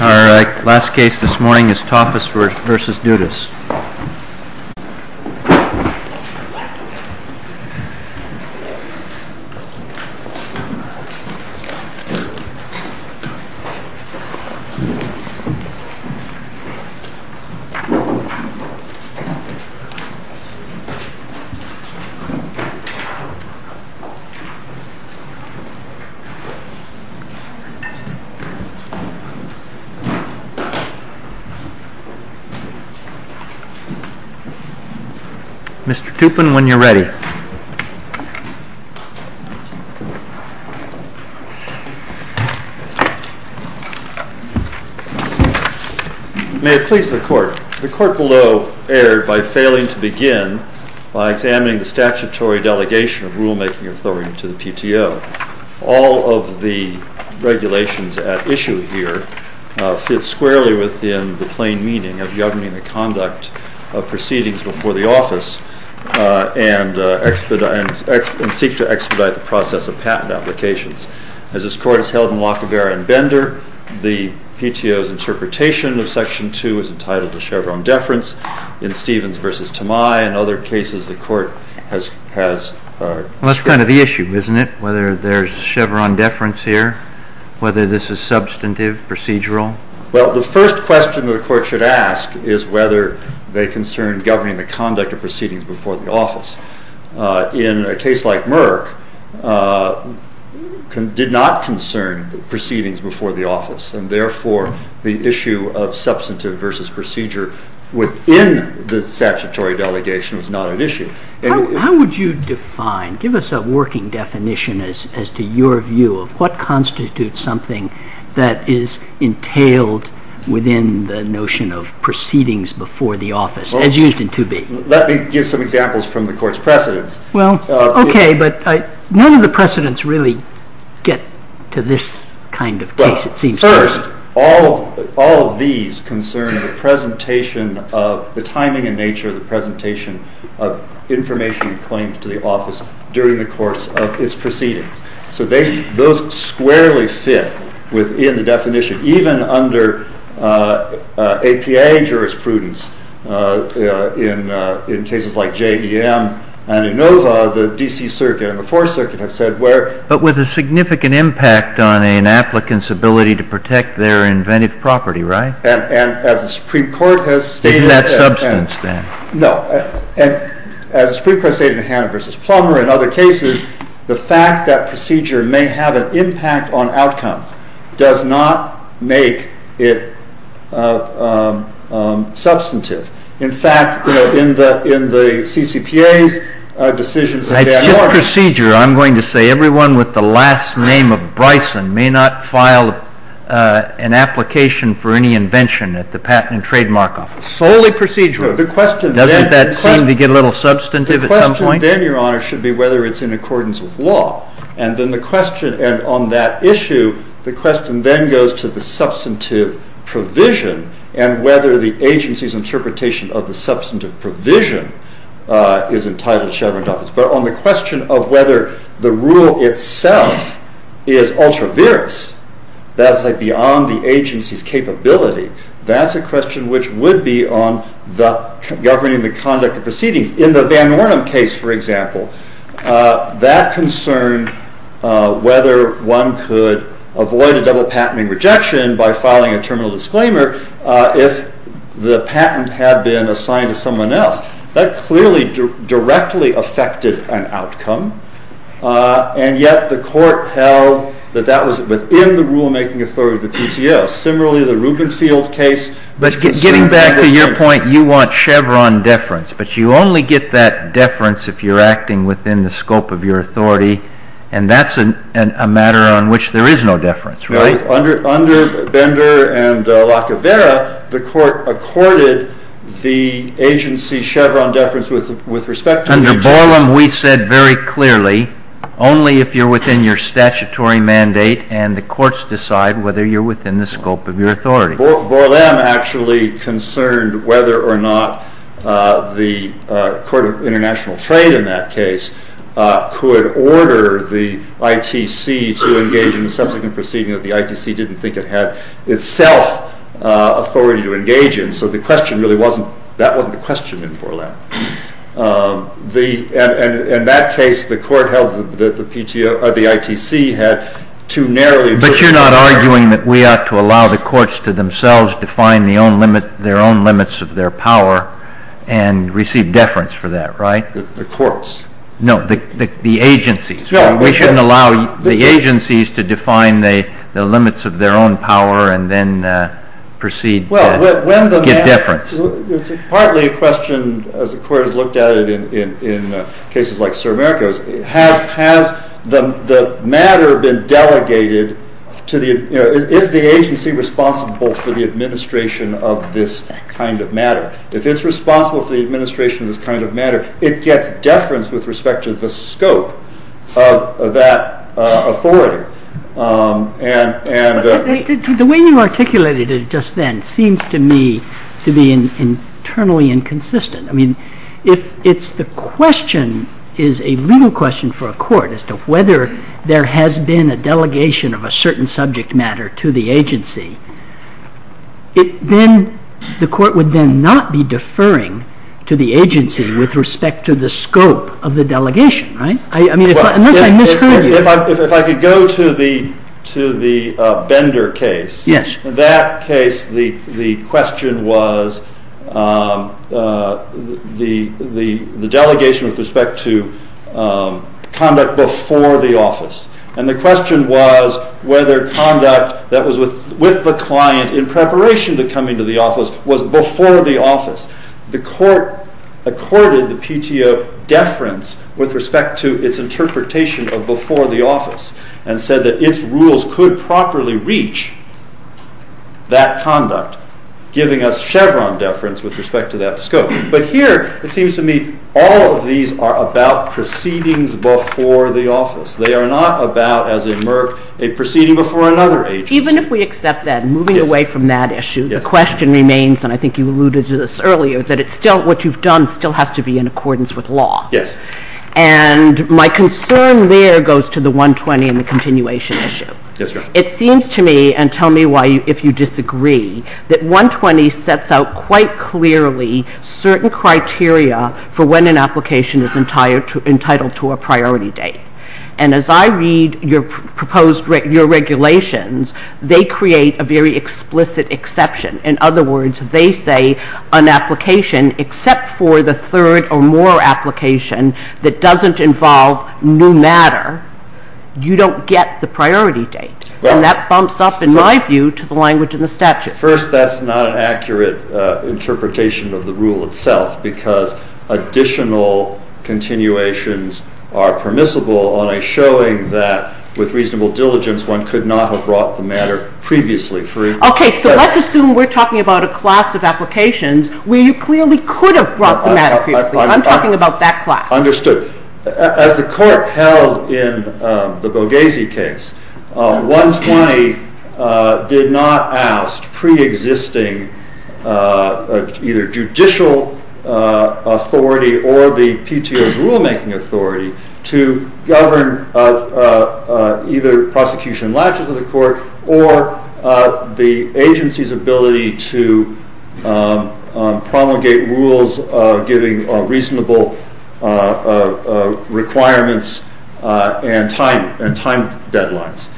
Alright, last case this morning is Tafas v. Dudas. Mr. Tupin, when you're ready. May it please the Court, the Court below erred by failing to begin by examining the statutory delegation of rulemaking authority to the PTO. All of the regulations at issue here fit squarely within the plain meaning of governing the conduct of proceedings before the office and seek to expedite the process of patent applications. As this Court has held in Lacovara and Bender, the PTO's interpretation of Section 2 is entitled to Chevron deference. In Stevens v. Tamai and other cases the Court has erred. Well, that's kind of the issue, isn't it? Whether there's Chevron deference here, whether this is substantive, procedural? Well, the first question the Court should ask is whether they concern governing the conduct of proceedings before the office. In a case like Merck, it did not concern proceedings before the office and therefore the issue of substantive versus procedure within the statutory delegation was not an issue. How would you define, give us a working definition as to your view of what constitutes something that is entailed within the notion of proceedings before the office, as used in 2B? Let me give some examples from the Court's precedents. Well, okay, but none of the precedents really get to this kind of case, it seems to me. First, all of these concern the timing and nature of the presentation of information and claims to the office during the course of its proceedings. So those squarely fit within the definition. Even under APA jurisprudence in cases like JVM and ANOVA, the D.C. Circuit and the Fourth Circuit have said where— In other cases, the fact that procedure may have an impact on outcome does not make it substantive. In fact, in the CCPA's decision— It's just procedure, I'm going to say, everyone with the last name of Bryson may not file an application for any invention at the Patent and Trademark Office. Solely procedural. Doesn't that seem to get a little substantive at some point? The question then, Your Honor, should be whether it's in accordance with law. And on that issue, the question then goes to the substantive provision and whether the agency's interpretation of the substantive provision is entitled to Chevron doffice. But on the question of whether the rule itself is ultra-virus, that's like beyond the agency's capability, that's a question which would be on governing the conduct of proceedings. In the Van Ornum case, for example, that concern whether one could avoid a double-patenting rejection by filing a terminal disclaimer if the patent had been assigned to someone else. That clearly directly affected an outcome, and yet the Court held that that was within the rulemaking authority of the PTO. Similarly, the Rubenfield case— But getting back to your point, you want Chevron deference, but you only get that deference if you're acting within the scope of your authority, and that's a matter on which there is no deference, right? Under Bender and Lacovara, the Court accorded the agency Chevron deference with respect to— Under Borlam, we said very clearly, only if you're within your statutory mandate and the courts decide whether you're within the scope of your authority. Borlam actually concerned whether or not the Court of International Trade in that case could order the ITC to engage in the subsequent proceeding that the ITC didn't think it had itself authority to engage in. So the question really wasn't—that wasn't the question in Borlam. In that case, the court held that the ITC had too narrowly— But you're not arguing that we ought to allow the courts to themselves define their own limits of their power and receive deference for that, right? The courts. No, the agencies. We shouldn't allow the agencies to define the limits of their own power and then proceed to give deference. Well, when the matter—it's partly a question, as the Court has looked at it in cases like Sur America, has the matter been delegated to the—is the agency responsible for the administration of this kind of matter? If it's responsible for the administration of this kind of matter, it gets deference with respect to the scope of that authority. The way you articulated it just then seems to me to be internally inconsistent. I mean, if the question is a legal question for a court as to whether there has been a deferring to the agency with respect to the scope of the delegation, right? I mean, unless I misheard you— If I could go to the Bender case. Yes. In that case, the question was the delegation with respect to conduct before the office. And the question was whether conduct that was with the client in preparation to come into the office was before the office. The Court accorded the PTO deference with respect to its interpretation of before the office and said that its rules could properly reach that conduct, giving us Chevron deference with respect to that scope. But here it seems to me all of these are about proceedings before the office. They are not about, as in Merck, a proceeding before another agency. Even if we accept that, moving away from that issue, the question remains, and I think you alluded to this earlier, that what you've done still has to be in accordance with law. And my concern there goes to the 120 and the continuation issue. It seems to me, and tell me why, if you disagree, that 120 sets out quite clearly certain criteria for when an application is entitled to a priority date. And as I read your proposed regulations, they create a very explicit exception. In other words, they say an application except for the third or more application that doesn't involve new matter, you don't get the priority date. And that bumps up, in my view, to the language in the statute. First, that's not an accurate interpretation of the rule itself because additional continuations are permissible on a showing that, with reasonable diligence, one could not have brought the matter previously. Okay, so let's assume we're talking about a class of applications where you clearly could have brought the matter previously. I'm talking about that class. Understood. As the court held in the Boghazi case, 120 did not oust preexisting either judicial authority or the PTO's rulemaking authority to govern either prosecution latches of the court or the agency's ability to promulgate rules giving reasonable requirements and time deadlines.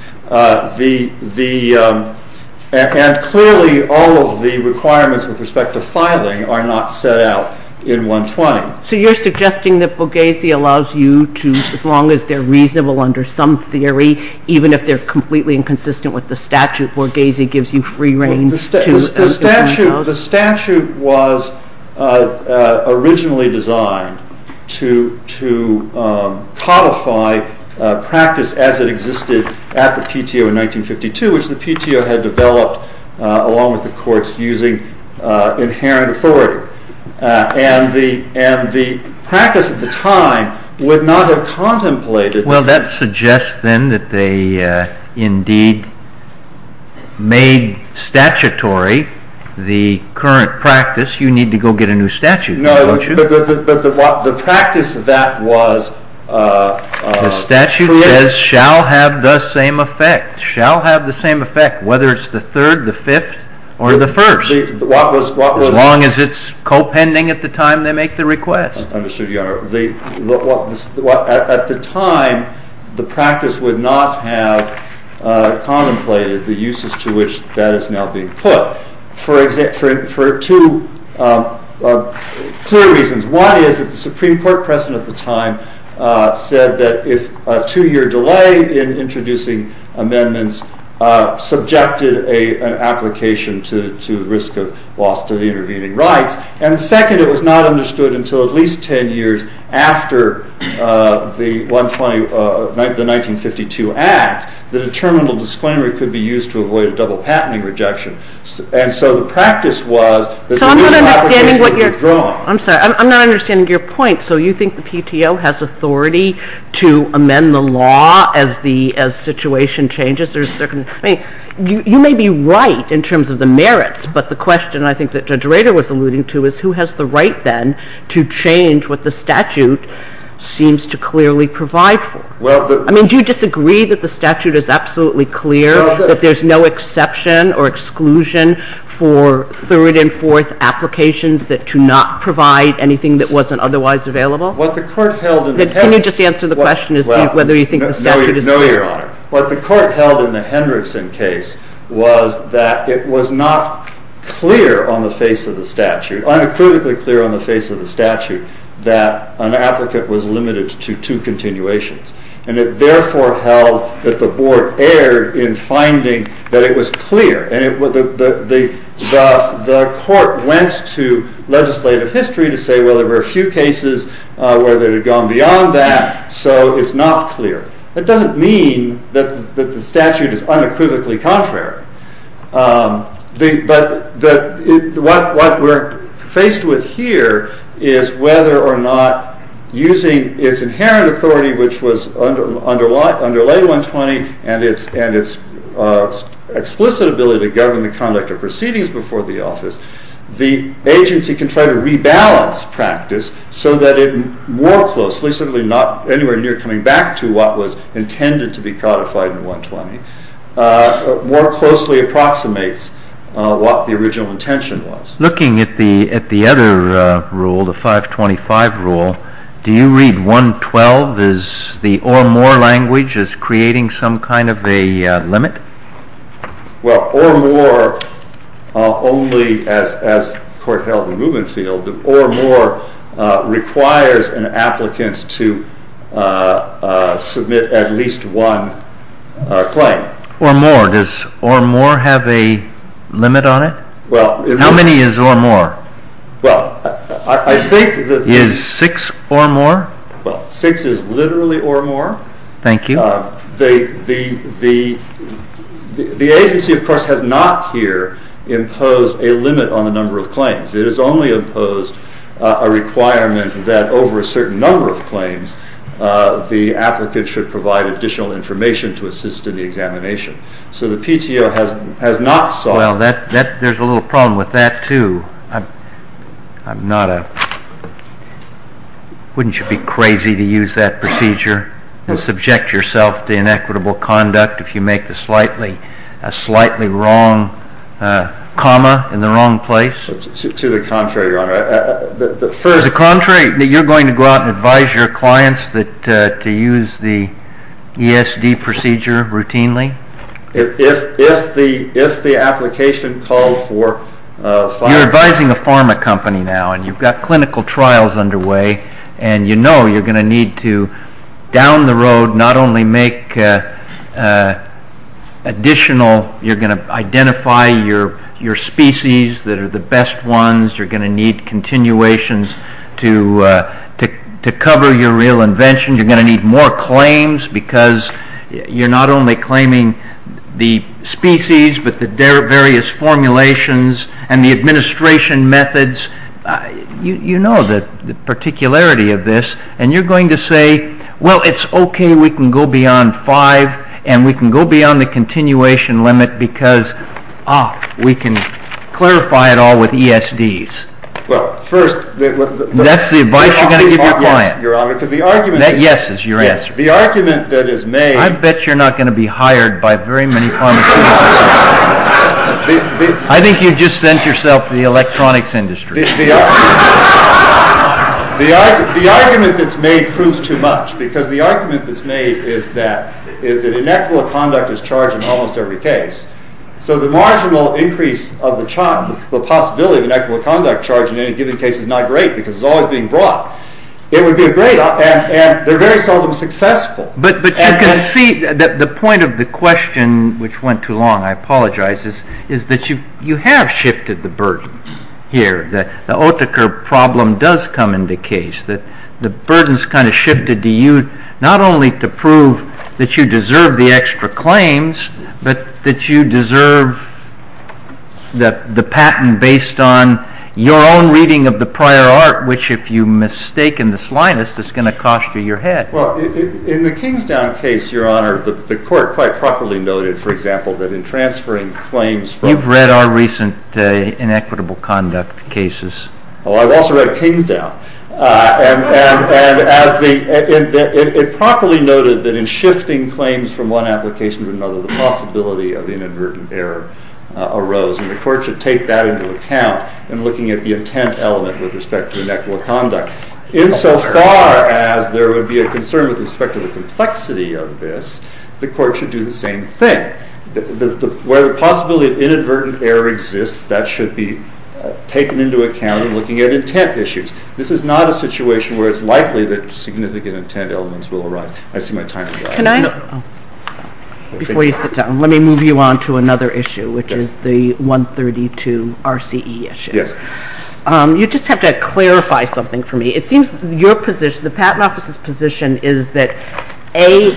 And clearly, all of the requirements with respect to filing are not set out in 120. So you're suggesting that Boghazi allows you to, as long as they're reasonable under some theory, even if they're completely inconsistent with the statute, Boghazi gives you free reign to... The statute was originally designed to codify practice as it existed at the PTO in 1952, which the PTO had developed along with the courts using inherent authority. And the practice at the time would not have contemplated... Well, that suggests then that they indeed made statutory the current practice. You need to go get a new statute, don't you? No, but the practice of that was... The statute says, shall have the same effect, shall have the same effect, whether it's the third, the fifth, or the first. As long as it's co-pending at the time they make the request. Understood, Your Honor. At the time, the practice would not have contemplated the uses to which that is now being put. For two clear reasons. One is that the Supreme Court president at the time said that if a two year delay in introducing amendments subjected an application to the risk of loss to the intervening rights. And second, it was not understood until at least 10 years after the 1952 act that a terminal disclaimer could be used to avoid a double patenting rejection. And so the practice was that the new application would be withdrawn. I'm sorry, I'm not understanding your point. So you think the PTO has authority to amend the law as the situation changes? I mean, you may be right in terms of the merits, but the question I think that Judge Rader was alluding to is who has the right, then, to change what the statute seems to clearly provide for? I mean, do you disagree that the statute is absolutely clear, that there's no exception or exclusion for third and fourth applications that do not provide anything that wasn't otherwise available? What the court held in the past... Can you just answer the question as to whether you think the statute is clear? No, Your Honor. What the court held in the Hendrickson case was that it was not clear on the face of the statute, unacutely clear on the face of the statute, that an applicant was limited to two continuations. And it therefore held that the board erred in finding that it was clear. And the court went to legislative history to say, well, there were a few cases where they had gone beyond that, so it's not clear. That doesn't mean that the statute is unequivocally contrary. But what we're faced with here is whether or not using its inherent authority, which was under Lay 120 and its explicit ability to govern the conduct of proceedings before the office, the agency can try to rebalance practice so that it more closely, implicitly not anywhere near coming back to what was intended to be codified in 120, more closely approximates what the original intention was. Looking at the other rule, the 525 rule, do you read 112 as the or more language as creating some kind of a limit? Well, or more only as court held in Rubenfield. Or more requires an applicant to submit at least one claim. Or more, does or more have a limit on it? Well- How many is or more? Well, I think that- Is six or more? Well, six is literally or more. Thank you. The agency, of course, has not here imposed a limit on the number of claims. It has only imposed a requirement that over a certain number of claims, the applicant should provide additional information to assist in the examination. So the PTO has not sought- Well, there's a little problem with that too. I'm not a- Wouldn't you be crazy to use that procedure and subject yourself to inequitable conduct if you make a slightly wrong comma in the wrong place? To the contrary, Your Honor. The first- To the contrary, you're going to go out and advise your clients to use the ESD procedure routinely? If the application calls for- You're advising a pharma company now and you've got clinical trials underway and you know you're going to need to, down the road, not only make additional- You're going to need continuations to cover your real invention. You're going to need more claims because you're not only claiming the species but the various formulations and the administration methods. You know the particularity of this. And you're going to say, well, it's okay. We can go beyond five and we can go beyond the continuation limit because, ah, we can clarify it all with ESDs. Well, first- That's the advice you're going to give your client. Your Honor, because the argument- That yes is your answer. The argument that is made- I bet you're not going to be hired by very many pharmaceutical companies. I think you've just sent yourself to the electronics industry. The argument that's made proves too much because the argument that's made is that inequitable conduct is charged in almost every case. So the marginal increase of the possibility of inequitable conduct charge in any given case is not great because it's always being brought. It would be great and they're very seldom successful. But you can see that the point of the question, which went too long, I apologize, is that you have shifted the burden here, that the Oetheker problem does come into case, that the burden's kind of shifted to you, not only to prove that you deserve the extra claims, but that you deserve the patent based on your own reading of the prior art, which if you mistake in the slightest, it's going to cost you your head. Well, in the Kingsdown case, Your Honor, the court quite properly noted, for example, that in transferring claims from- You've read our recent inequitable conduct cases. Oh, I've also read Kingsdown. And it properly noted that in shifting claims from one application to another, the possibility of inadvertent error arose, and the court should take that into account in looking at the intent element with respect to inequitable conduct. Insofar as there would be a concern with respect to the complexity of this, the court should do the same thing. Where the possibility of inadvertent error exists, that should be taken into account in looking at intent issues. This is not a situation where it's likely that significant intent elements will arise. I see my time is up. Can I- Before you sit down, let me move you on to another issue, which is the 132 RCE issue. Yes. You just have to clarify something for me. It seems your position, the Patent Office's position, is that A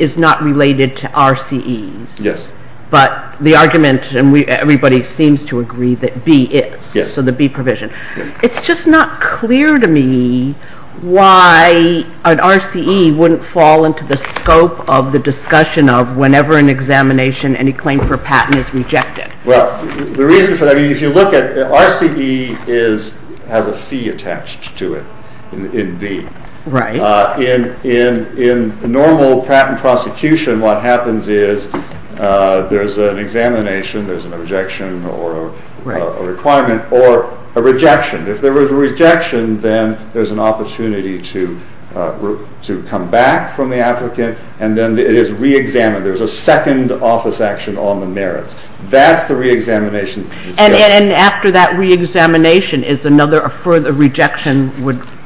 is not related to RCEs. Yes. But the argument, and everybody seems to agree, that B is. Yes. So the B provision. It's just not clear to me why an RCE wouldn't fall into the scope of the discussion of whenever an examination, any claim for patent is rejected. Well, the reason for that, if you look at RCE has a fee attached to it in B. Right. In normal patent prosecution, what happens is there's an examination, there's an objection, or a requirement, or a rejection. If there was a rejection, then there's an opportunity to come back from the applicant, and then it is reexamined. There's a second office action on the merits. That's the reexamination. And after that reexamination, is another, a further rejection?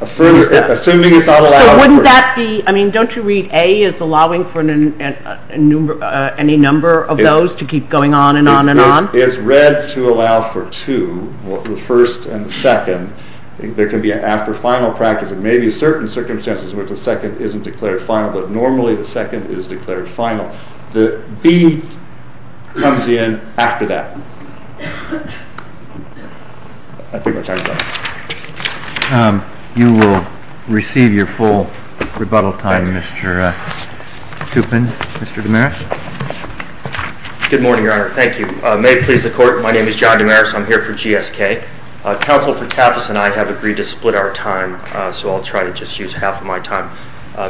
Assuming it's not allowed. So wouldn't that be, I mean, don't you read A is allowing for any number of those to keep going on and on and on? It's read to allow for two, the first and the second. There can be an after final practice. There may be certain circumstances where the second isn't declared final, but normally the second is declared final. The B comes in after that. I think my time is up. You will receive your full rebuttal time, Mr. Toupin. Mr. Damaris? Good morning, Your Honor. Thank you. May it please the Court, my name is John Damaris. I'm here for GSK. Counsel for Tafas and I have agreed to split our time, so I'll try to just use half of my time.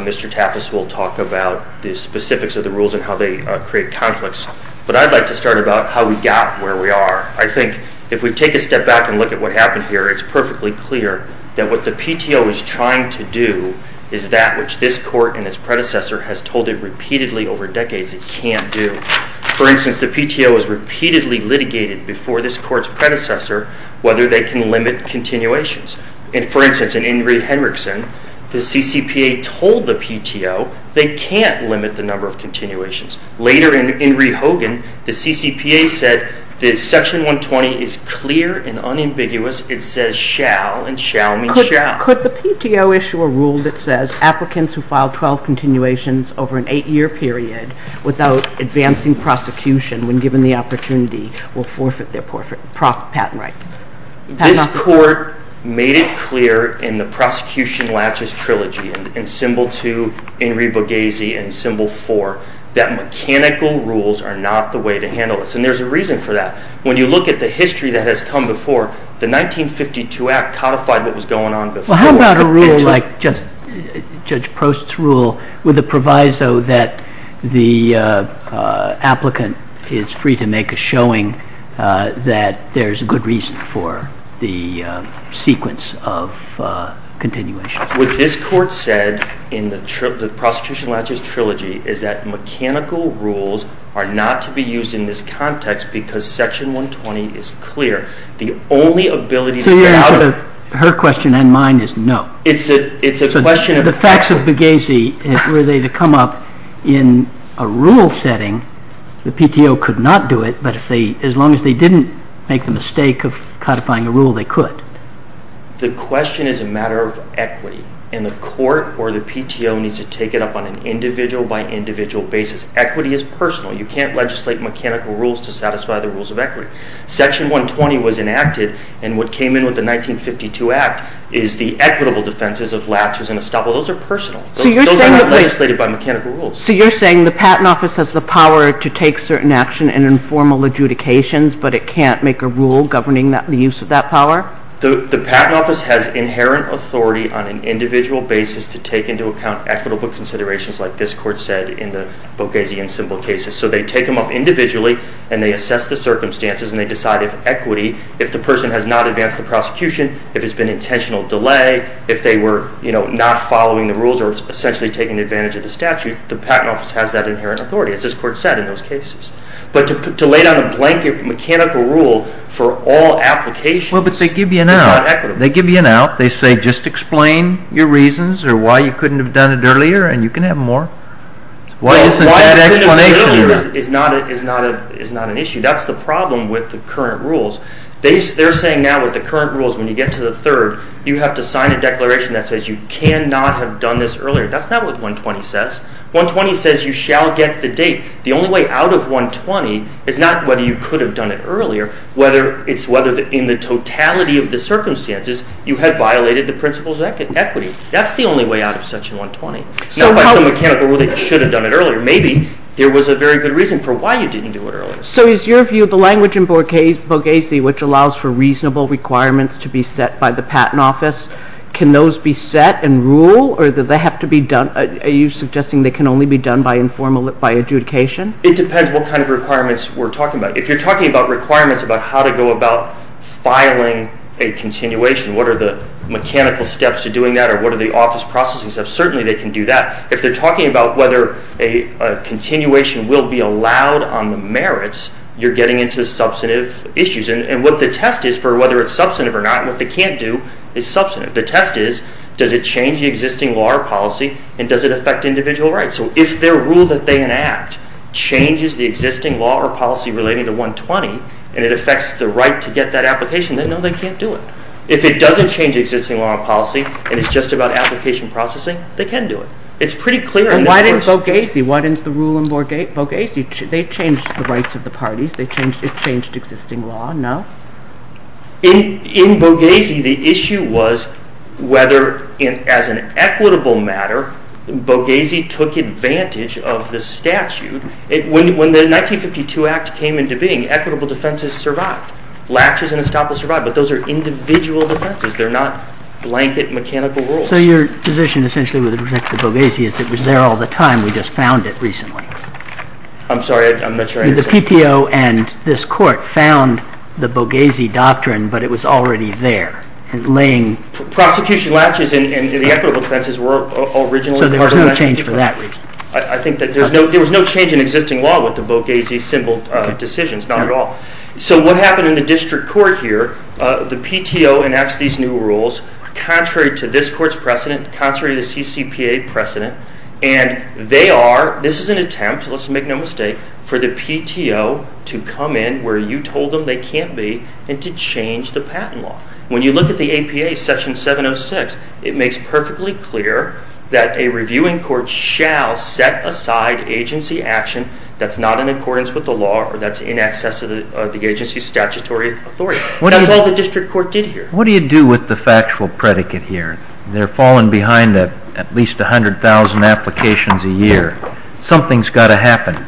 Mr. Tafas will talk about the specifics of the rules and how they create conflicts, but I'd like to start about how we got where we are. I think if we take a step back and look at what happened here, it's perfectly clear that what the PTO is trying to do is that which this Court and its predecessor has told it repeatedly over decades it can't do. For instance, the PTO has repeatedly litigated before this Court's predecessor whether they can limit continuations. For instance, in Ingrid Henriksen, the CCPA told the PTO they can't limit the number of continuations. Later, in Ingrid Hogan, the CCPA said that Section 120 is clear and unambiguous. It says shall and shall mean shall. Could the PTO issue a rule that says applicants who file 12 continuations over an eight-year period without advancing prosecution when given the opportunity will forfeit their patent rights? This Court made it clear in the Prosecution Latches Trilogy, in Symbol 2, Ingrid Boghazi, and Symbol 4, that mechanical rules are not the way to handle this, and there's a reason for that. When you look at the history that has come before, the 1952 Act codified what was going on before. How about a rule like Judge Prost's rule with the proviso that the applicant is free to make a showing that there's a good reason for the sequence of continuations? What this Court said in the Prosecution Latches Trilogy is that mechanical rules are not to be used in this context because Section 120 is clear. The only ability to get out of— Her question and mine is no. It's a question— The facts of Boghazi, were they to come up in a rule setting, the PTO could not do it, but as long as they didn't make the mistake of codifying a rule, they could. The question is a matter of equity, and the Court or the PTO needs to take it up on an individual-by-individual basis. Equity is personal. You can't legislate mechanical rules to satisfy the rules of equity. Section 120 was enacted, and what came in with the 1952 Act is the equitable defenses of latches and estoppels. Those are personal. Those are not legislated by mechanical rules. So you're saying the Patent Office has the power to take certain action and informal adjudications, but it can't make a rule governing the use of that power? The Patent Office has inherent authority on an individual basis to take into account equitable considerations like this Court said in the Boghazi and Simbel cases. So they take them up individually, and they assess the circumstances, and they decide if equity, if the person has not advanced the prosecution, if it's been intentional delay, if they were not following the rules or essentially taking advantage of the statute, the Patent Office has that inherent authority, as this Court said in those cases. But to lay down a blanket mechanical rule for all applications is not equitable. Well, but they give you an out. They give you an out. They say, just explain your reasons or why you couldn't have done it earlier, and you can have more. Well, why you couldn't have done it earlier is not an issue. That's the problem with the current rules. They're saying now with the current rules, when you get to the third, you have to sign a declaration that says you cannot have done this earlier. That's not what 120 says. 120 says you shall get the date. The only way out of 120 is not whether you could have done it earlier, whether it's whether in the totality of the circumstances, you had violated the principles of equity. That's the only way out of section 120. Not by some mechanical rule that you should have done it earlier. Maybe there was a very good reason for why you didn't do it earlier. So is your view of the language in Borghese, which allows for reasonable requirements to be set by the Patent Office, can those be set and rule, or do they have to be done? Are you suggesting they can only be done by adjudication? It depends what kind of requirements we're talking about. If you're talking about requirements about how to go about filing a continuation, what are the mechanical steps to doing that, or what are the office processing steps, certainly they can do that. If they're talking about whether a continuation will be allowed on the merits, you're getting into substantive issues. And what the test is for whether it's substantive or not, and what they can't do is substantive. The test is, does it change the existing law or policy, and does it affect individual rights? So if their rule that they enact changes the existing law or policy relating to 120, and it affects the right to get that application, then no, they can't do it. If it doesn't change existing law and policy, and it's just about application processing, they can do it. It's pretty clear in this course. And why didn't Borghese, why didn't the rule in Borghese, they changed the rights of the parties, they changed, it changed existing law, no? In Borghese, the issue was whether, as an equitable matter, Borghese took advantage of the statute. When the 1952 Act came into being, equitable defenses survived. Latches and estoppels survived, but those are individual defenses. They're not blanket mechanical rules. So your position essentially with respect to Borghese is it was there all the time, we just found it recently. I'm sorry, I'm not sure I understand. The PTO and this court found the Borghese doctrine, but it was already there, laying... Prosecution latches and the equitable defenses were originally part of that. So there was no change for that reason? I think that there was no change in existing law with the Borghese symbol decisions, not at all. So what happened in the district court here, the PTO enacts these new rules, contrary to this court's precedent, contrary to the CCPA precedent, and they are, this is an attempt, let's make no mistake, for the PTO to come in where you told them they can't be, and to change the patent law. When you look at the APA section 706, it makes perfectly clear that a reviewing court shall set aside agency action that's not in accordance with the law or that's in excess of the agency's statutory authority. That's all the district court did here. What do you do with the factual predicate here? They're falling behind at least 100,000 applications a year. Something's got to happen.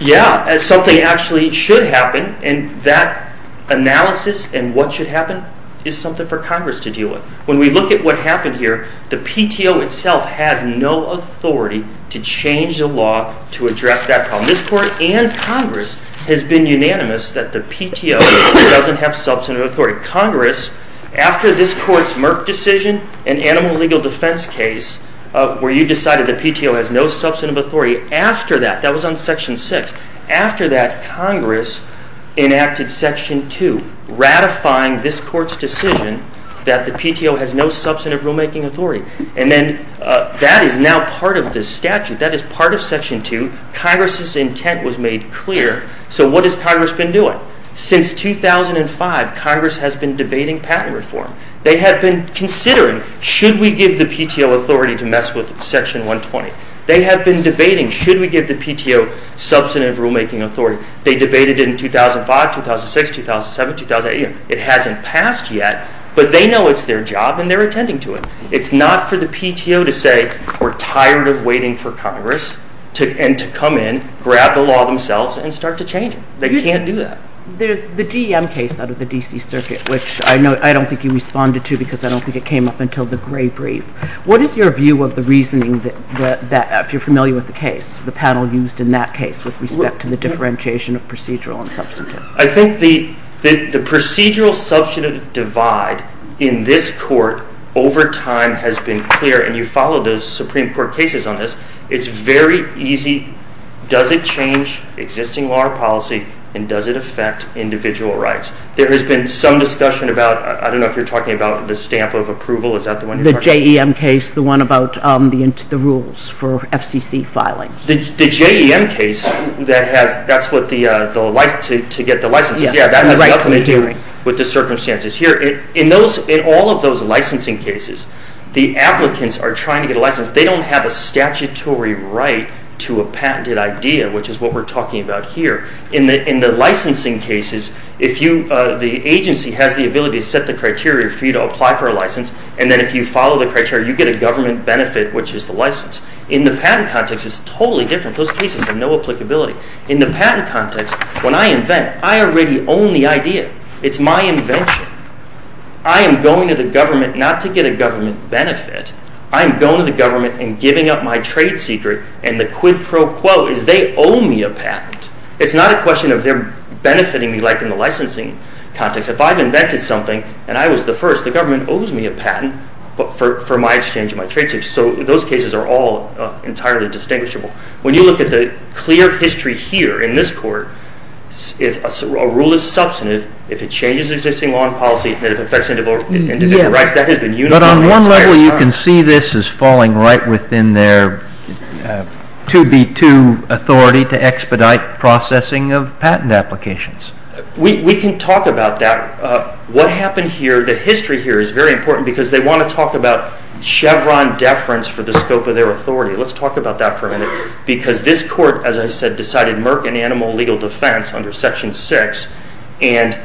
Yeah, something actually should happen, and that analysis and what should happen is something for Congress to deal with. When we look at what happened here, the PTO itself has no authority to change the law to address that problem. This court and Congress has been unanimous that the PTO doesn't have substantive authority. Congress, after this court's Merck decision, an animal legal defense case, where you decided the PTO has no substantive authority, after that, that was on section 6, after that, Congress enacted section 2, ratifying this court's decision that the PTO has no substantive rulemaking authority. And then that is now part of this statute. That is part of section 2. Congress's intent was made clear. So what has Congress been doing? Since 2005, Congress has been debating patent reform. They have been considering, should we give the PTO authority to mess with section 120? They have been debating, should we give the PTO substantive rulemaking authority? They debated it in 2005, 2006, 2007, 2008. It hasn't passed yet, but they know it's their job and they're attending to it. It's not for the PTO to say, we're tired of waiting for Congress and to come in, grab the law themselves, and start to change it. They can't do that. There's the DM case out of the D.C. Circuit, which I don't think you responded to because I don't think it came up until the Gray Brief. What is your view of the reasoning, if you're familiar with the case, the panel used in that case with respect to the differentiation of procedural and substantive? I think the procedural-substantive divide in this court over time has been clear, and you follow those Supreme Court cases on this. It's very easy. Does it change existing law or policy and does it affect individual rights? There has been some discussion about, I don't know if you're talking about the stamp of approval. Is that the one you're talking about? The JEM case, the one about the rules for FCC filing. The JEM case, that's to get the licenses. Yeah, that has nothing to do with the circumstances. Here, in all of those licensing cases, the applicants are trying to get a license. They don't have a statutory right to a patented idea, which is what we're talking about here. In the licensing cases, the agency has the ability to set the criteria for you to apply for a license, and then if you follow the criteria, you get a government benefit, which is the license. In the patent context, it's totally different. Those cases have no applicability. In the patent context, when I invent, I already own the idea. It's my invention. I am going to the government not to get a government benefit. I'm going to the government and giving up my trade secret, and the quid pro quo is they owe me a patent. It's not a question of they're benefiting me, like in the licensing context. If I've invented something and I was the first, the government owes me a patent for my exchange and my trade secret, so those cases are all entirely distinguishable. When you look at the clear history here in this court, if a rule is substantive, if it changes existing law and policy, and if it affects individual rights, that has been uniformly experienced. But on one level, you can see this as falling right within their 2B2 authority to expedite processing of patent applications. We can talk about that. What happened here, the history here is very important because they want to talk about Chevron deference for the scope of their authority. Let's talk about that for a minute because this court, as I said, decided Merck and Animal Legal Defense under Section 6 and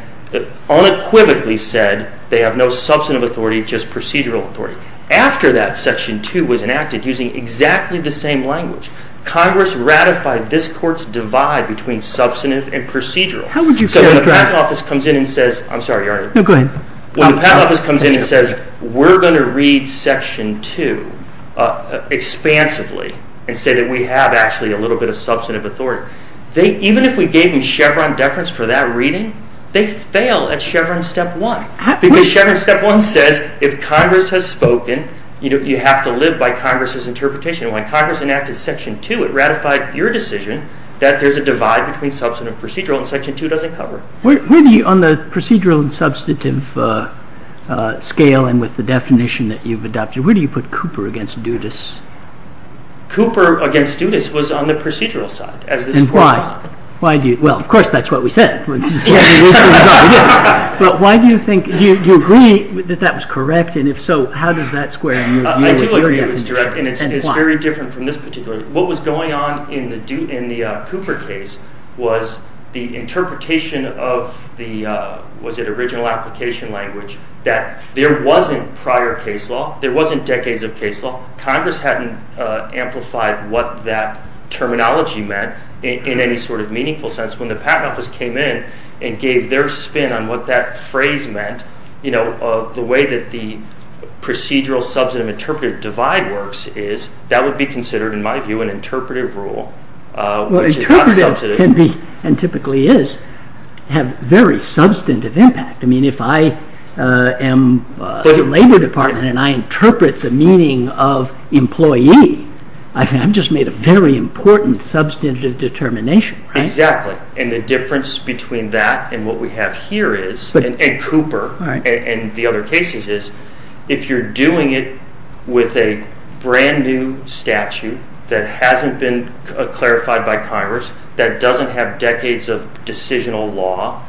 unequivocally said they have no substantive authority, just procedural authority. After that, Section 2 was enacted using exactly the same language. Congress ratified this court's divide between substantive and procedural. How would you say that? So when the back office comes in and says, I'm sorry, Arnie. No, go ahead. When the back office comes in and says, we're going to read Section 2 expansively and say that we have actually a little bit of substantive authority, even if we gave them Chevron deference for that reading, they fail at Chevron Step 1 because Chevron Step 1 says if Congress has spoken, you have to live by Congress's interpretation. When Congress enacted Section 2, it ratified your decision that there's a divide between substantive and procedural and Section 2 doesn't cover it. On the procedural and substantive scale and with the definition that you've adopted, where do you put Cooper against Dudas? Cooper against Dudas was on the procedural side. And why? Well, of course, that's what we said. But why do you think, do you agree that that was correct? And if so, how does that square you? I do agree it was direct and it's very different from this particular. What was going on in the Cooper case was the interpretation of the, was it original application language that there wasn't prior case law, there wasn't decades of case law. Congress hadn't amplified what that terminology meant in any sort of meaningful sense. When the Patent Office came in and gave their spin on what that phrase meant, the way that the procedural, substantive, interpretive divide works is that would be considered, in my view, an interpretive rule, which is not substantive. Well, interpretive can be, and typically is, have very substantive impact. I mean, if I am the Labor Department and I interpret the meaning of employee, I've just made a very important substantive determination, right? Exactly. And the difference between that and what we have here is, and Cooper and the other cases is, if you're doing it with a brand new statute that hasn't been clarified by Congress, that doesn't have decades of decisional law,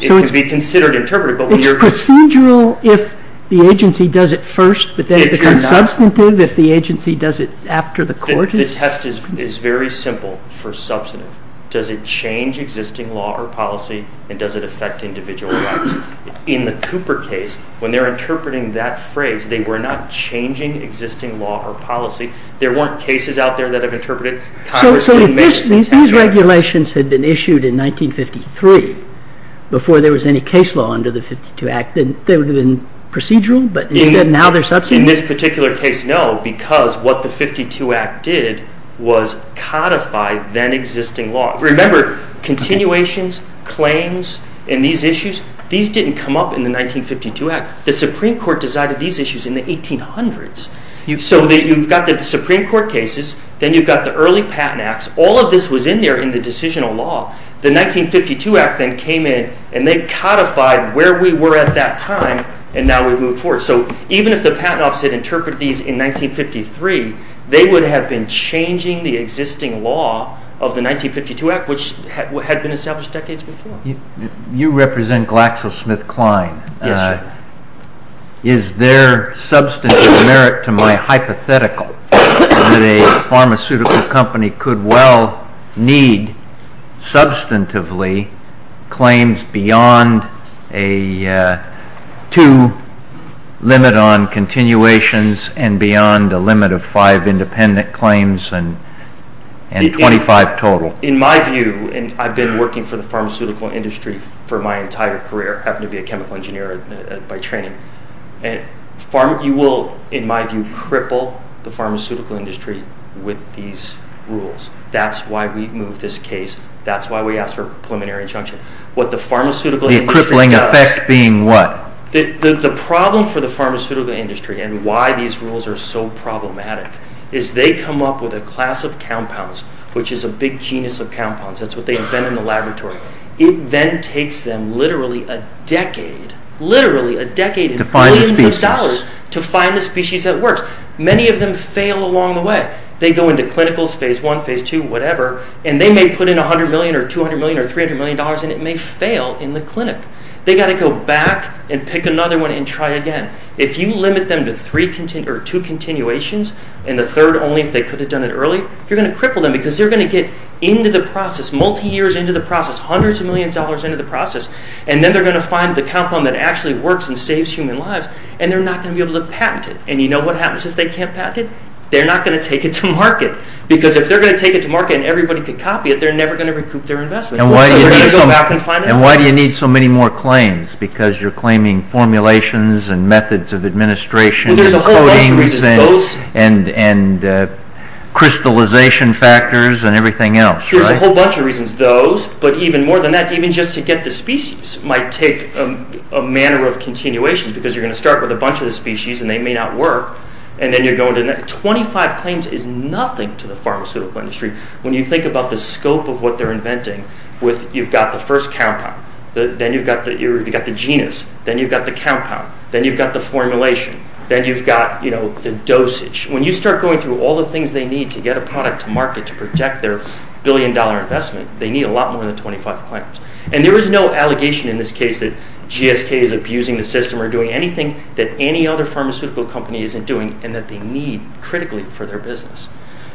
it could be considered interpretive, but when you're- It's procedural if the agency does it first, but then it becomes substantive if the agency does it after the court is- The test is very simple for substantive. Does it change existing law or policy and does it affect individual rights? In the Cooper case, when they're interpreting that phrase, they were not changing existing law or policy. There weren't cases out there that have interpreted Congress- So if these regulations had been issued in 1953 before there was any case law under the 52 Act, then they would have been procedural, but now they're substantive? In this particular case, no, because what the 52 Act did was codify then existing law. Remember, continuations, claims, and these issues, these didn't come up in the 1952 Act. The Supreme Court decided these issues in the 1800s. So you've got the Supreme Court cases, then you've got the early patent acts. All of this was in there in the decisional law. The 1952 Act then came in and they codified where we were at that time and now we've moved forward. So even if the patent office had interpreted these in 1953, they would have been changing the existing law of the 1952 Act, which had been established decades before. You represent GlaxoSmithKline. Yes, sir. Is there substantive merit to my hypothetical that a pharmaceutical company could well need substantively claims beyond a two limit on continuations and beyond a limit of five independent claims and 25 total? In my view, and I've been working for the pharmaceutical industry for my entire career, happen to be a chemical engineer by training. You will, in my view, cripple the pharmaceutical industry with these rules. That's why we moved this case. That's why we asked for preliminary injunction. What the pharmaceutical industry does... The crippling effect being what? The problem for the pharmaceutical industry and why these rules are so problematic is they come up with a class of compounds, which is a big genus of compounds. That's what they invent in the laboratory. It then takes them literally a decade, literally a decade and billions of dollars to find the species that works. Many of them fail along the way. They go into clinicals, phase one, phase two, whatever, and they may put in 100 million or 200 million or 300 million dollars and it may fail in the clinic. They got to go back and pick another one and try again. If you limit them to two continuations and the third only if they could have done it early, you're going to cripple them because they're going to get into the process, multi-years into the process, hundreds of millions of dollars into the process, and then they're going to find the compound that actually works and saves human lives and they're not going to be able to patent it. And you know what happens if they can't patent it? They're not going to take it to market because if they're going to take it to market and everybody could copy it, they're never going to recoup their investment. So they're going to go back and find it. And why do you need so many more claims? Because you're claiming formulations and methods of administration... Well, there's a whole bunch of reasons. Those and crystallization factors and everything else, right? There's a whole bunch of reasons. Those, but even more than that, even just to get the species might take a manner of continuation because you're going to start with a bunch of the species and they may not work and then you're going to... 25 claims is nothing to the pharmaceutical industry. When you think about the scope of what they're inventing with you've got the first compound, then you've got the genus, then you've got the compound, then you've got the formulation, then you've got the dosage. When you start going through all the things they need to get a product to market to protect their billion-dollar investment, they need a lot more than 25 claims. And there is no allegation in this case that GSK is abusing the system or doing anything that any other pharmaceutical company isn't doing and that they need critically for their business.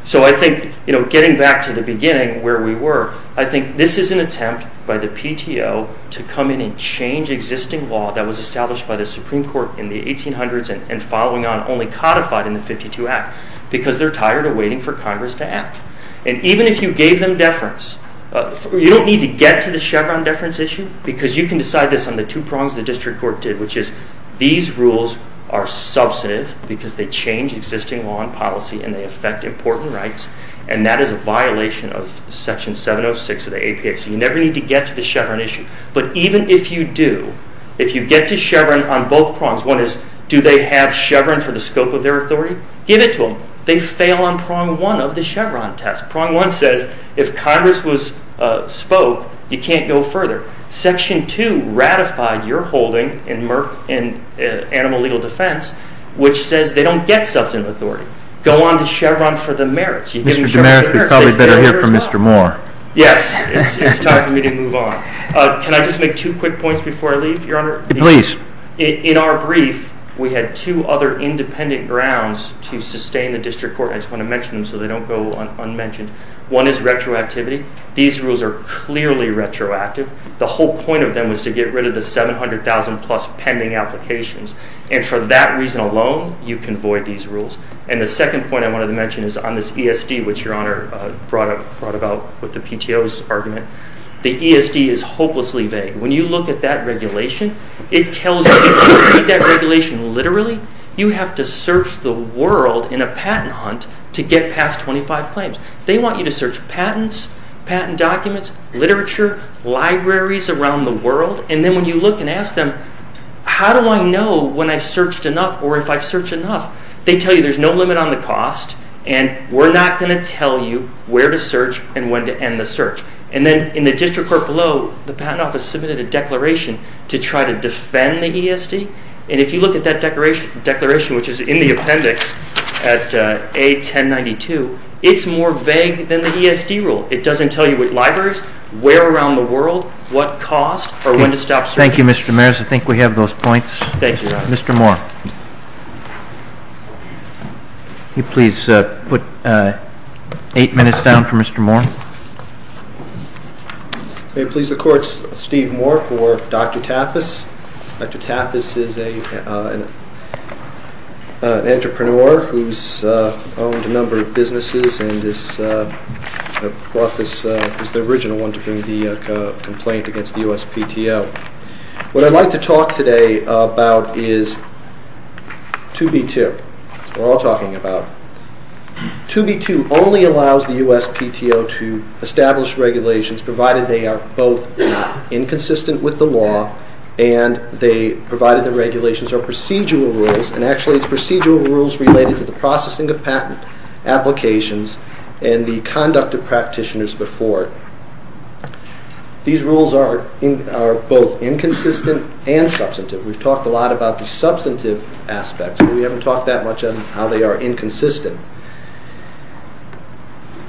So I think getting back to the beginning where we were, I think this is an attempt by the PTO to come in and change existing law that was established by the Supreme Court in the 1800s and following on only codified in the 52 Act because they're tired of waiting for Congress to act. And even if you gave them deference, you don't need to get to the Chevron deference issue because you can decide this on the two prongs the district court did, which is these rules are substantive because they change existing law and policy and they affect important rights. And that is a violation of Section 706 of the APA. So you never need to get to the Chevron issue. But even if you do, if you get to Chevron on both prongs, one is do they have Chevron for the scope of their authority? Give it to them. They fail on prong one of the Chevron test. Prong one says if Congress spoke, you can't go further. Section two ratified your holding in animal legal defense, which says they don't get substantive authority. Go on to Chevron for the merits. You give them Chevron for the merits, they fail yours on. Mr. Demarest, we probably better hear from Mr. Moore. Yes, it's time for me to move on. Can I just make two quick points before I leave, Your Honor? Please. In our brief, we had two other independent grounds to sustain the district court. I just want to mention them so they don't go unmentioned. One is retroactivity. These rules are clearly retroactive. The whole point of them was to get rid of the 700,000 plus pending applications. And for that reason alone, you can void these rules. And the second point I wanted to mention is on this ESD, which Your Honor brought about with the PTO's argument. The ESD is hopelessly vague. When you look at that regulation, it tells you if you read that regulation literally, you have to search the world in a patent hunt to get past 25 claims. They want you to search patents, patent documents, literature, libraries around the world. And then when you look and ask them, how do I know when I've searched enough or if I've searched enough? They tell you there's no limit on the cost and we're not going to tell you where to search and when to end the search. And then in the district court below, the Patent Office submitted a declaration to try to defend the ESD. And if you look at that declaration, which is in the appendix at A1092, it's more vague than the ESD rule. It doesn't tell you which libraries, where around the world, what cost, or when to stop searching. Thank you, Mr. Mears. I think we have those points. Thank you, Your Honor. Mr. Moore. Can you please put eight minutes down for Mr. Moore? May it please the courts, Steve Moore for Dr. Taffas. Dr. Taffas is an entrepreneur who's owned a number of businesses and is the original one to bring the complaint against the USPTO. What I'd like to talk today about is 2B2. That's what we're all talking about. 2B2 only allows the USPTO to establish regulations provided they are both inconsistent with the law and they provided the regulations are procedural rules. And actually it's procedural rules related to the processing of patent applications and the conduct of practitioners before it. These rules are both inconsistent and substantive. We've talked a lot about the substantive aspects, but we haven't talked that much on how they are inconsistent.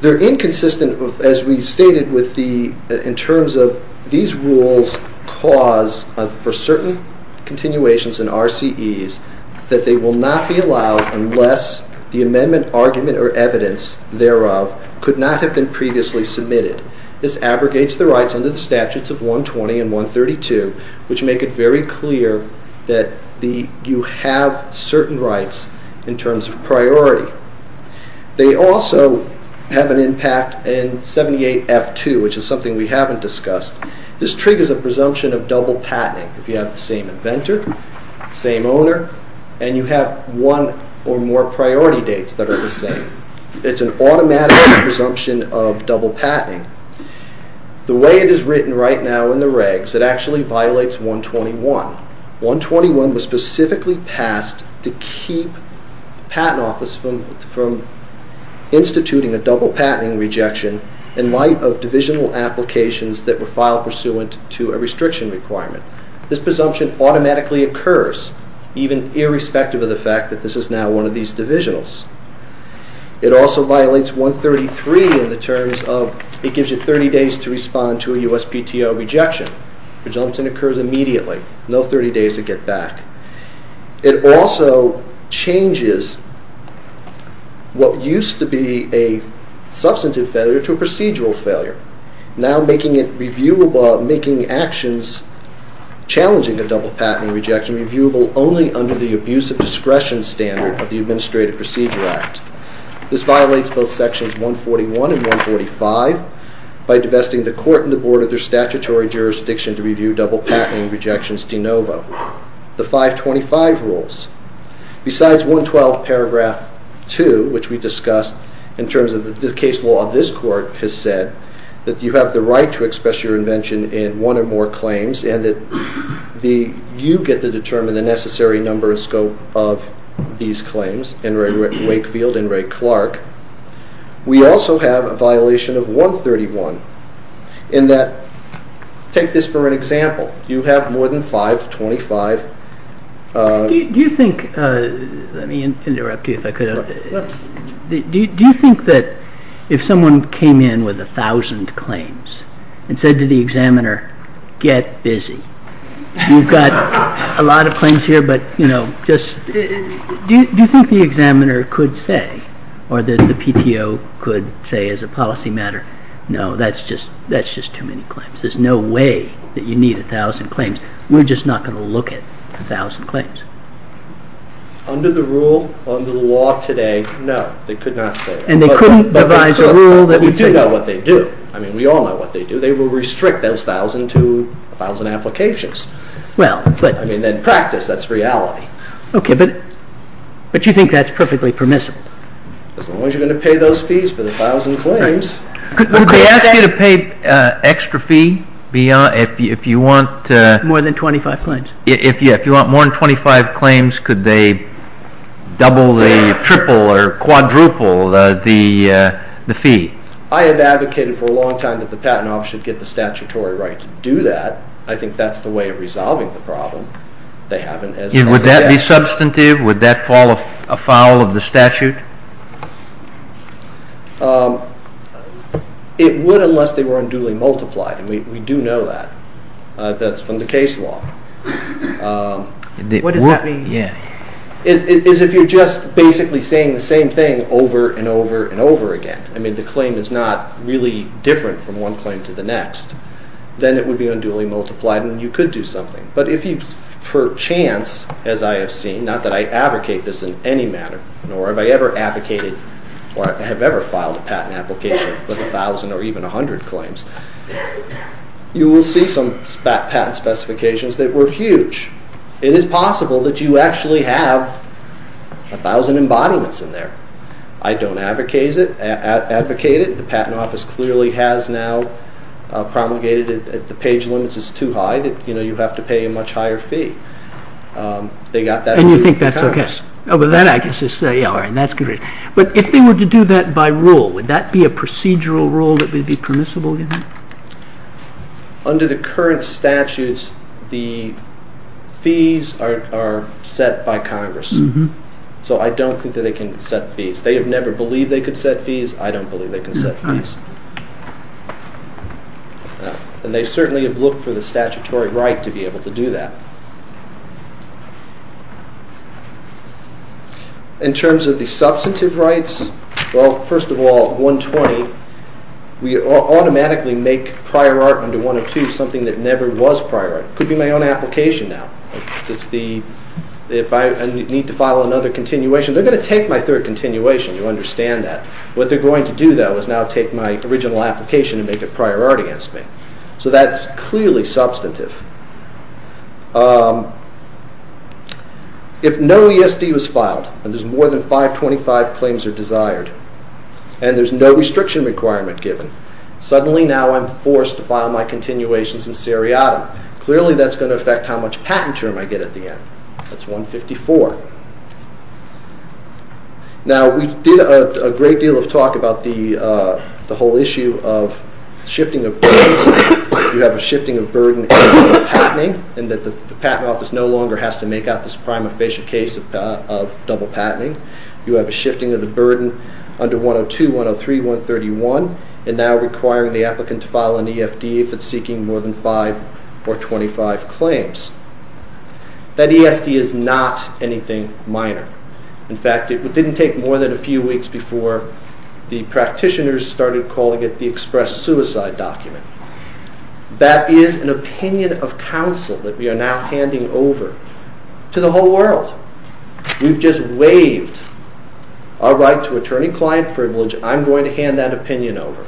They're inconsistent as we stated in terms of these rules cause for certain continuations and RCEs that they will not be allowed unless the amendment argument or evidence thereof could not have been previously submitted. This abrogates the rights under the statutes of 120 and 132, which make it very clear that you have certain rights in terms of priority. They also have an impact in 78F2, which is something we haven't discussed. This triggers a presumption of double patenting if you have the same inventor, same owner, and you have one or more priority dates that are the same. It's an automatic presumption of double patenting. The way it is written right now in the regs, it actually violates 121. 121 was specifically passed to keep the patent office from instituting a double patenting rejection in light of divisional applications that were filed pursuant to a restriction requirement. This presumption automatically occurs even irrespective of the fact that this is now one of these divisionals. It also violates 133 in the terms of it gives you 30 days to respond to a USPTO rejection. The presumption occurs immediately, no 30 days to get back. It also changes what used to be a substantive failure to a procedural failure, now making actions challenging a double patenting rejection reviewable only under the abuse of discretion standard of the Administrative Procedure Act. This violates both sections 141 and 145 by divesting the court and the board of their statutory jurisdiction to review double patenting rejections de novo. The 525 rules. Besides 112 paragraph 2, which we discussed in terms of the case law of this court has said that you have the right to express your invention in one or more claims and that you get to determine the necessary number of scope of these claims in Ray Wakefield and Ray Clark. We also have a violation of 131 in that, take this for an example, you have more than 525. Do you think, let me interrupt you if I could, do you think that if someone came in with a thousand claims and said to the examiner, get busy, you've got a lot of claims here, but you know, do you think the examiner could say or that the PTO could say as a policy matter, no, that's just too many claims. There's no way that you need a thousand claims. We're just not going to look at a thousand claims. Under the rule, under the law today, no, they could not say that. And they couldn't devise a rule that would say that. But we do know what they do. I mean, we all know what they do. They will restrict those thousand to a thousand applications. Well, but... I mean, in practice, that's reality. Okay, but you think that's perfectly permissible? As long as you're going to pay those fees for the thousand claims. Would they ask you to pay extra fee beyond, if you want... More than 25 claims. If you want more than 25 claims, could they double the triple or quadruple the fee? I have advocated for a long time that the patent office should get the statutory right to do that. I think that's the way of resolving the problem. They haven't as... Would that be substantive? Would that fall afoul of the statute? It would, unless they were unduly multiplied. And we do know that. That's from the case law. What does that mean? Yeah. Is if you're just basically saying the same thing over and over and over again. I mean, the claim is not really different from one claim to the next. Then it would be unduly multiplied and you could do something. But if you, per chance, as I have seen, not that I advocate this in any manner, nor have I ever advocated or have ever filed a patent application, with a thousand or even a hundred claims, you will see some patent specifications that were huge. It is possible that you actually have a thousand embodiments in there. I don't advocate it. The patent office clearly has now promulgated it. The page limits is too high that, you know, you have to pay a much higher fee. They got that... And you think that's okay. Oh, but that, I guess, is... Yeah, all right. That's good. But if they were to do that by rule, would that be a procedural rule that would be permissible? Under the current statutes, the fees are set by Congress. So I don't think that they can set fees. They have never believed they could set fees. I don't believe they can set fees. And they certainly have looked for the statutory right to be able to do that. In terms of the substantive rights, well, first of all, 120, we automatically make prior art under 102 something that never was prior art. It could be my own application now. If I need to file another continuation, they're going to take my third continuation. You understand that. What they're going to do, though, is now take my original application and make it prior art against me. So that's clearly substantive. If no ESD was filed and there's more than 525 claims are desired and there's no restriction requirement given, suddenly now I'm forced to file my continuations in seriatim. Clearly, that's going to affect how much patent term I get at the end. That's 154. Now, we did a great deal of talk about the whole issue of shifting of burdens. You have a shifting of burden in patenting and that the patent office no longer has to make out this prima facie case of double patenting. You have a shifting of the burden under 102, 103, 131, and now requiring the applicant to file an EFD if it's seeking more than 5 or 25 claims. That ESD is not anything minor. In fact, it didn't take more than a few weeks before the practitioners started calling it the express suicide document. That is an opinion of counsel that we are now handing over to the whole world. We've just waived our right to attorney-client privilege. I'm going to hand that opinion over.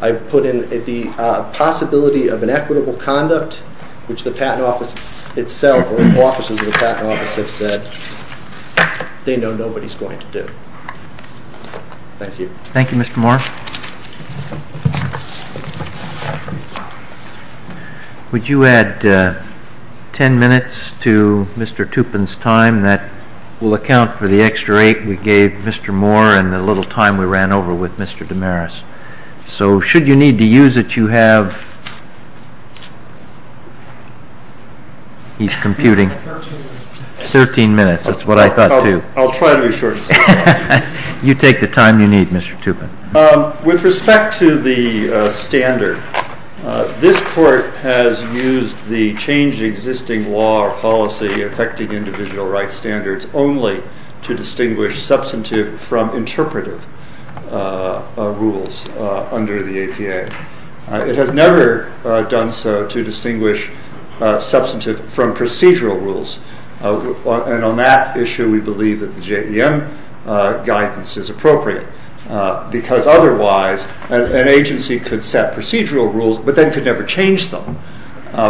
I've put in the possibility of an equitable conduct, which the patent office itself or the offices of the patent office have said they know nobody's going to do. Thank you. Thank you, Mr. Moore. Would you add 10 minutes to Mr. Tupin's time? That will account for the extra eight we gave Mr. Moore and the little time we ran over with Mr. DeMaris. So should you need to use it, you have... He's computing. Thirteen minutes. Thirteen minutes. That's what I thought, too. I'll try to be short. I'll try to be short. I'll try to be short. With respect to the standard, this court has used the changed existing law or policy affecting individual rights standards only to distinguish substantive from interpretive rules under the APA. It has never done so to distinguish substantive from procedural rules. And on that issue, we believe that the JEM guidance is appropriate because otherwise an agency could set procedural rules but then could never change them,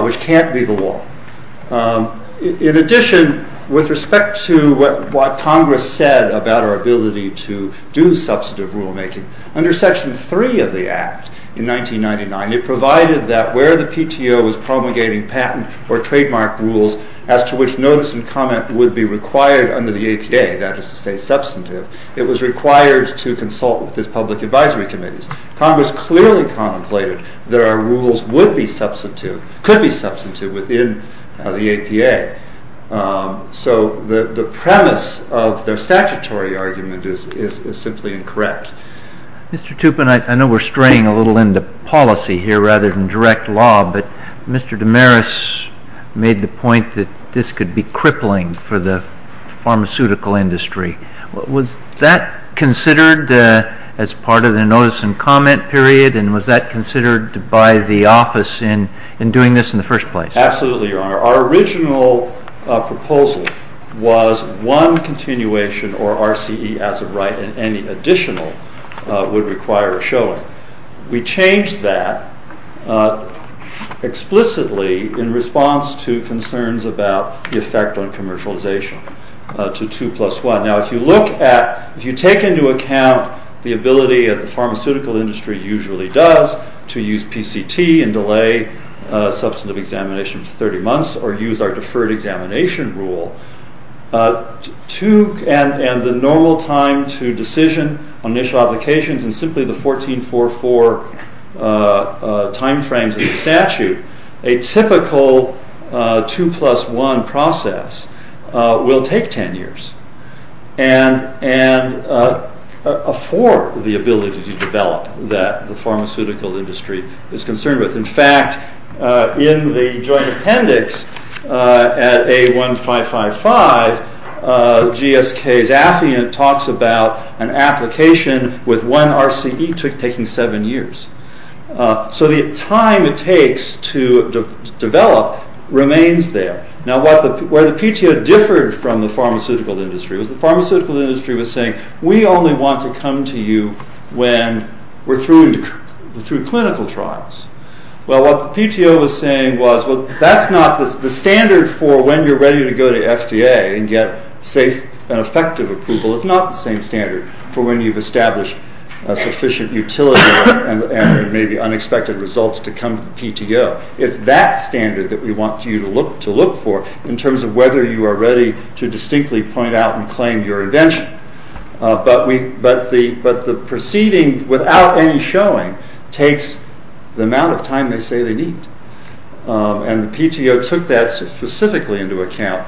which can't be the law. In addition, with respect to what Congress said about our ability to do substantive rulemaking, under Section 3 of the Act in 1999, it provided that where the PTO was promulgating patent or trademark rules as to which notice and comment would be required under the APA, that is to say substantive, it was required to consult with its public advisory committees. Congress clearly contemplated that our rules would be substantive, could be substantive within the APA. So the premise of their statutory argument is simply incorrect. Mr. Tupin, I know we're straying a little into policy here rather than direct law, but Mr. DeMaris made the point that this could be crippling for the pharmaceutical industry. Was that considered as part of the notice and comment period and was that considered by the office in doing this in the first place? Absolutely, Your Honor. Our original proposal was one continuation or RCE as of right and any additional would require a showing. We changed that explicitly in response to concerns about the effect on commercialization to 2 plus 1. Now, if you look at, if you take into account the ability as the pharmaceutical industry usually does to use PCT and delay substantive examination for 30 months or use our deferred examination rule and the normal time to decision on initial applications and simply the 1444 timeframes in statute, a typical 2 plus 1 process will take 10 years. And afford the ability to develop that the pharmaceutical industry is concerned with. In fact, in the joint appendix at A1555, GSK's affiant talks about an application with one RCE taking seven years. So the time it takes to develop remains there. Now, where the PTO differed from the pharmaceutical industry was the pharmaceutical industry was saying, we only want to come to you when we're through clinical trials. Well, what the PTO was saying was, well, that's not the standard for when you're ready to go to FDA and get safe and effective approval. It's not the same standard for when you've established a sufficient utility and maybe unexpected results to come to the PTO. It's that standard that we want you to look for in terms of whether you are ready to distinctly point out and claim your invention. But the proceeding without any showing takes the amount of time they say they need. And the PTO took that specifically into account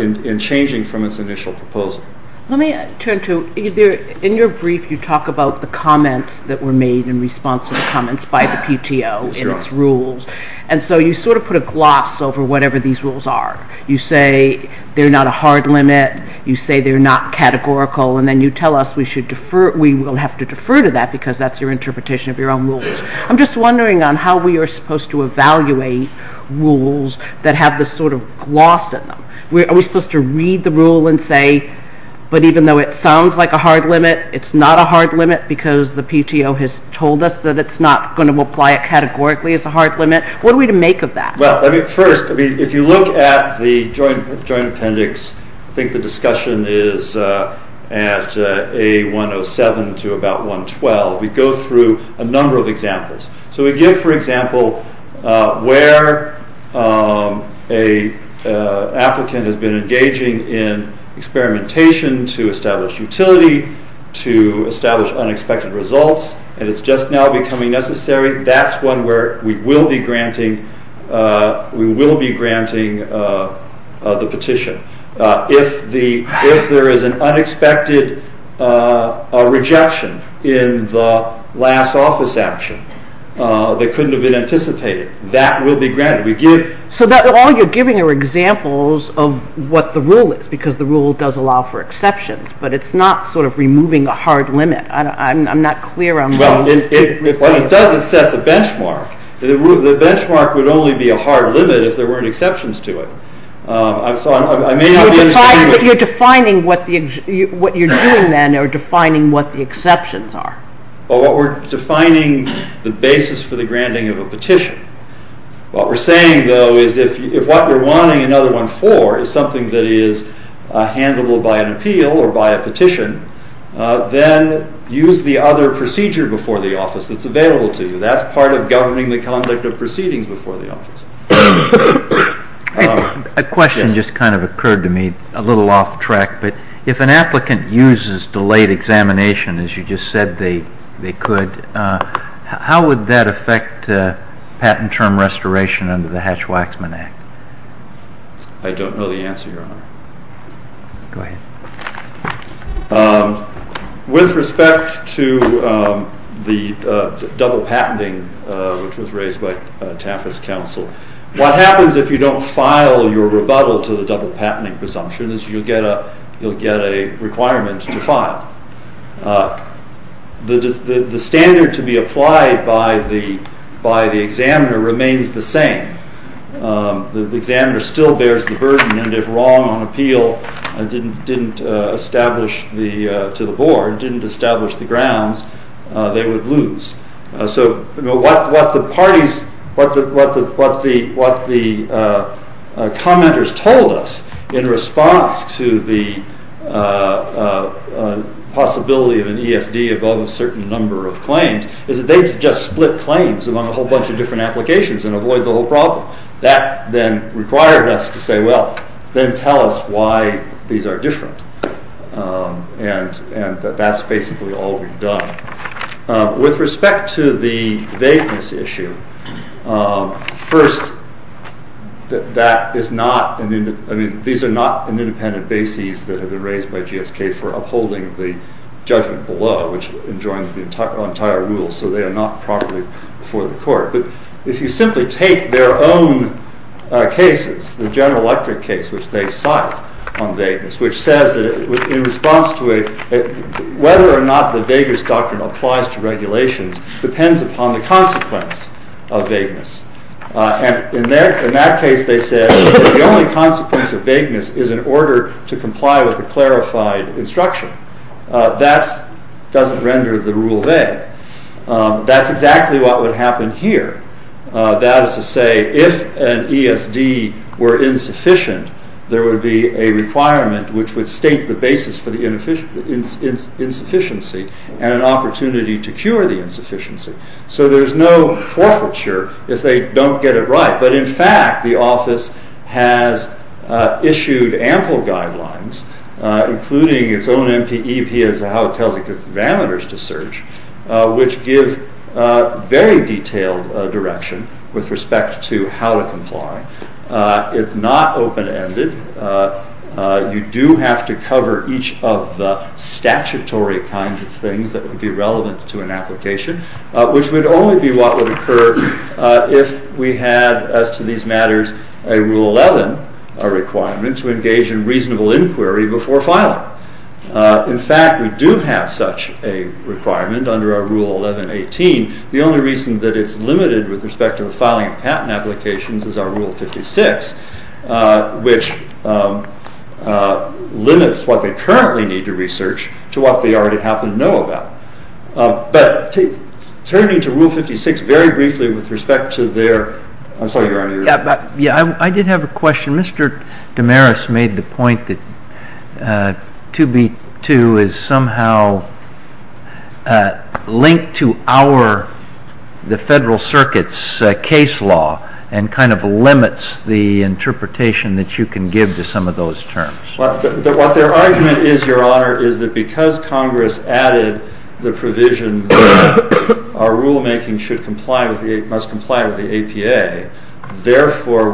in changing from its initial proposal. Let me turn to, in your brief, you talk about the comments that were made in response to the comments by the PTO and its rules. And so you sort of put a gloss over whatever these rules are. You say they're not a hard limit. You say they're not categorical. And then you tell us we will have to defer to that because that's your interpretation of your own rules. I'm just wondering on how we are supposed to evaluate rules that have this sort of gloss in them. Are we supposed to read the rule and say, but even though it sounds like a hard limit, it's not a hard limit because the PTO has told us that it's not going to apply it categorically as a hard limit. What are we to make of that? Well, first, if you look at the joint appendix, I think the discussion is at A107 to about 112. We go through a number of examples. So we give, for example, where a applicant has been engaging in experimentation to establish utility, to establish unexpected results, and it's just now becoming necessary. That's one where we will be granting the petition. If there is an unexpected rejection in the last office action that couldn't have been anticipated, that will be granted. We give- So all you're giving are examples of what the rule is because the rule does allow for exceptions, but it's not sort of removing a hard limit. I'm not clear on- Well, when it does, it sets a benchmark. The benchmark would only be a hard limit if there weren't exceptions to it. So I may not be understanding- If you're defining what you're doing, then you're defining what the exceptions are. Well, we're defining the basis for the granting of a petition. What we're saying, though, is if what you're wanting another one for is something that is handleable by an appeal or by a petition, then use the other procedure before the office that's available to you. That's part of governing the conduct of proceedings before the office. A question just kind of occurred to me, a little off track, but if an applicant uses delayed examination, as you just said they could, how would that affect patent term restoration under the Hatch-Waxman Act? I don't know the answer, Your Honor. Go ahead. With respect to the double patenting, which was raised by TAFAS counsel, what happens if you don't file your rebuttal to the double patenting presumption is you'll get a requirement to file. The standard to be applied by the examiner remains the same. The examiner still bears the burden, and if wrong on appeal to the board didn't establish the grounds, they would lose. So what the commenters told us in response to the possibility of an ESD above a certain number of claims is that they just split claims among a whole bunch of different applications and avoid the whole problem. That then required us to say, then tell us why these are different. And that's basically all we've done. With respect to the vagueness issue, first, these are not an independent basis that have been raised by GSK for upholding the judgment below, which enjoins the entire rule, so they are not properly before the court. But if you simply take their own cases, the General Electric case, which they cite on vagueness, which says that in response to it, whether or not the vagueness doctrine applies to regulations depends upon the consequence of vagueness. And in that case, they said the only consequence of vagueness is in order to comply with a clarified instruction. That doesn't render the rule vague. That's exactly what would happen here. That is to say, if an ESD were insufficient, there would be a requirement which would state the basis for the insufficiency and an opportunity to cure the insufficiency. So there's no forfeiture if they don't get it right. But in fact, the office has issued ample guidelines, including its own MPEP, as how it tells examiners to search, which give very detailed direction with respect to how to comply. It's not open-ended. You do have to cover each of the statutory kinds of things that would be relevant to an application, which would only be what would occur if we had, as to these matters, a Rule 11 requirement to engage in reasonable inquiry before filing. In fact, we do have such a requirement under our Rule 11.18. The only reason that it's limited with respect to the filing of patent applications is our Rule 56, which limits what they currently need to research to what they already happen to know about. But turning to Rule 56 very briefly with respect to their... I'm sorry, Your Honor, you were... Yeah, I did have a question. Mr. Damaris made the point that 2B2 is somehow linked to the Federal Circuit's case law and kind of limits the interpretation that you can give to some of those terms. What their argument is, Your Honor, is that because Congress added the provision our rulemaking must comply with the APA, therefore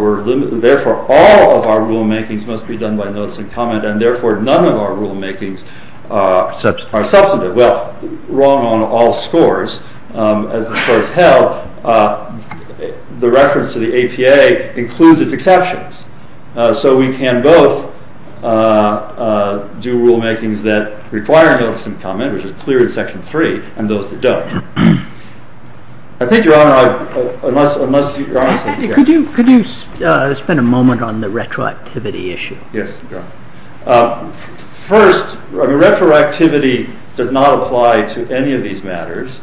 all of our rulemakings must be done by notice and comment, and therefore none of our rulemakings are substantive. Well, wrong on all scores. As the scores held, the reference to the APA includes its exceptions. So we can both do rulemakings that require notice and comment, which is clear in Section 3, and those that don't. I think, Your Honor, unless you're honest with me... Could you spend a moment on the retroactivity issue? Yes, Your Honor. First, retroactivity does not apply to any of these matters.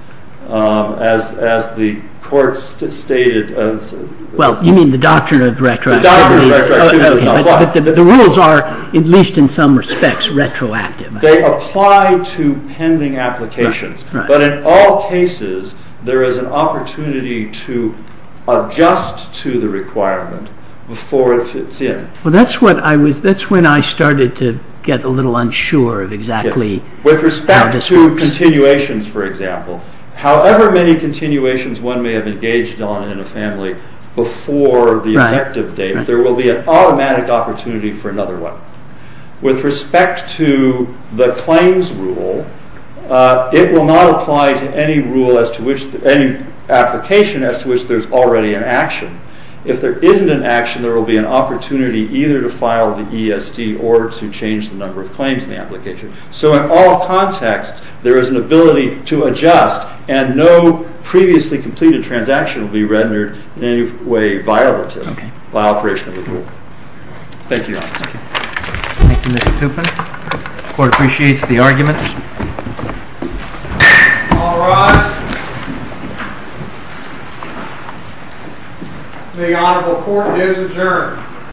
As the Court stated... Well, you mean the doctrine of retroactivity? The doctrine of retroactivity does not apply. The rules are, at least in some respects, retroactive. They apply to pending applications. But in all cases, there is an opportunity to adjust to the requirement before it fits in. Well, that's when I started to get a little unsure of exactly how this works. With respect to continuations, for example, however many continuations one may have engaged on in a family before the effective date, there will be an automatic opportunity for another one. With respect to the claims rule, it will not apply to any rule as to which... any application as to which there's already an action. If there isn't an action, there will be an opportunity either to file the ESD or to change the number of claims in the application. So in all contexts, there is an ability to adjust and no previously completed transaction will be rendered in any way violative by operation of the rule. Thank you, Your Honor. Thank you, Mr. Tupin. The Court appreciates the arguments. All rise. The Honorable Court is adjourned.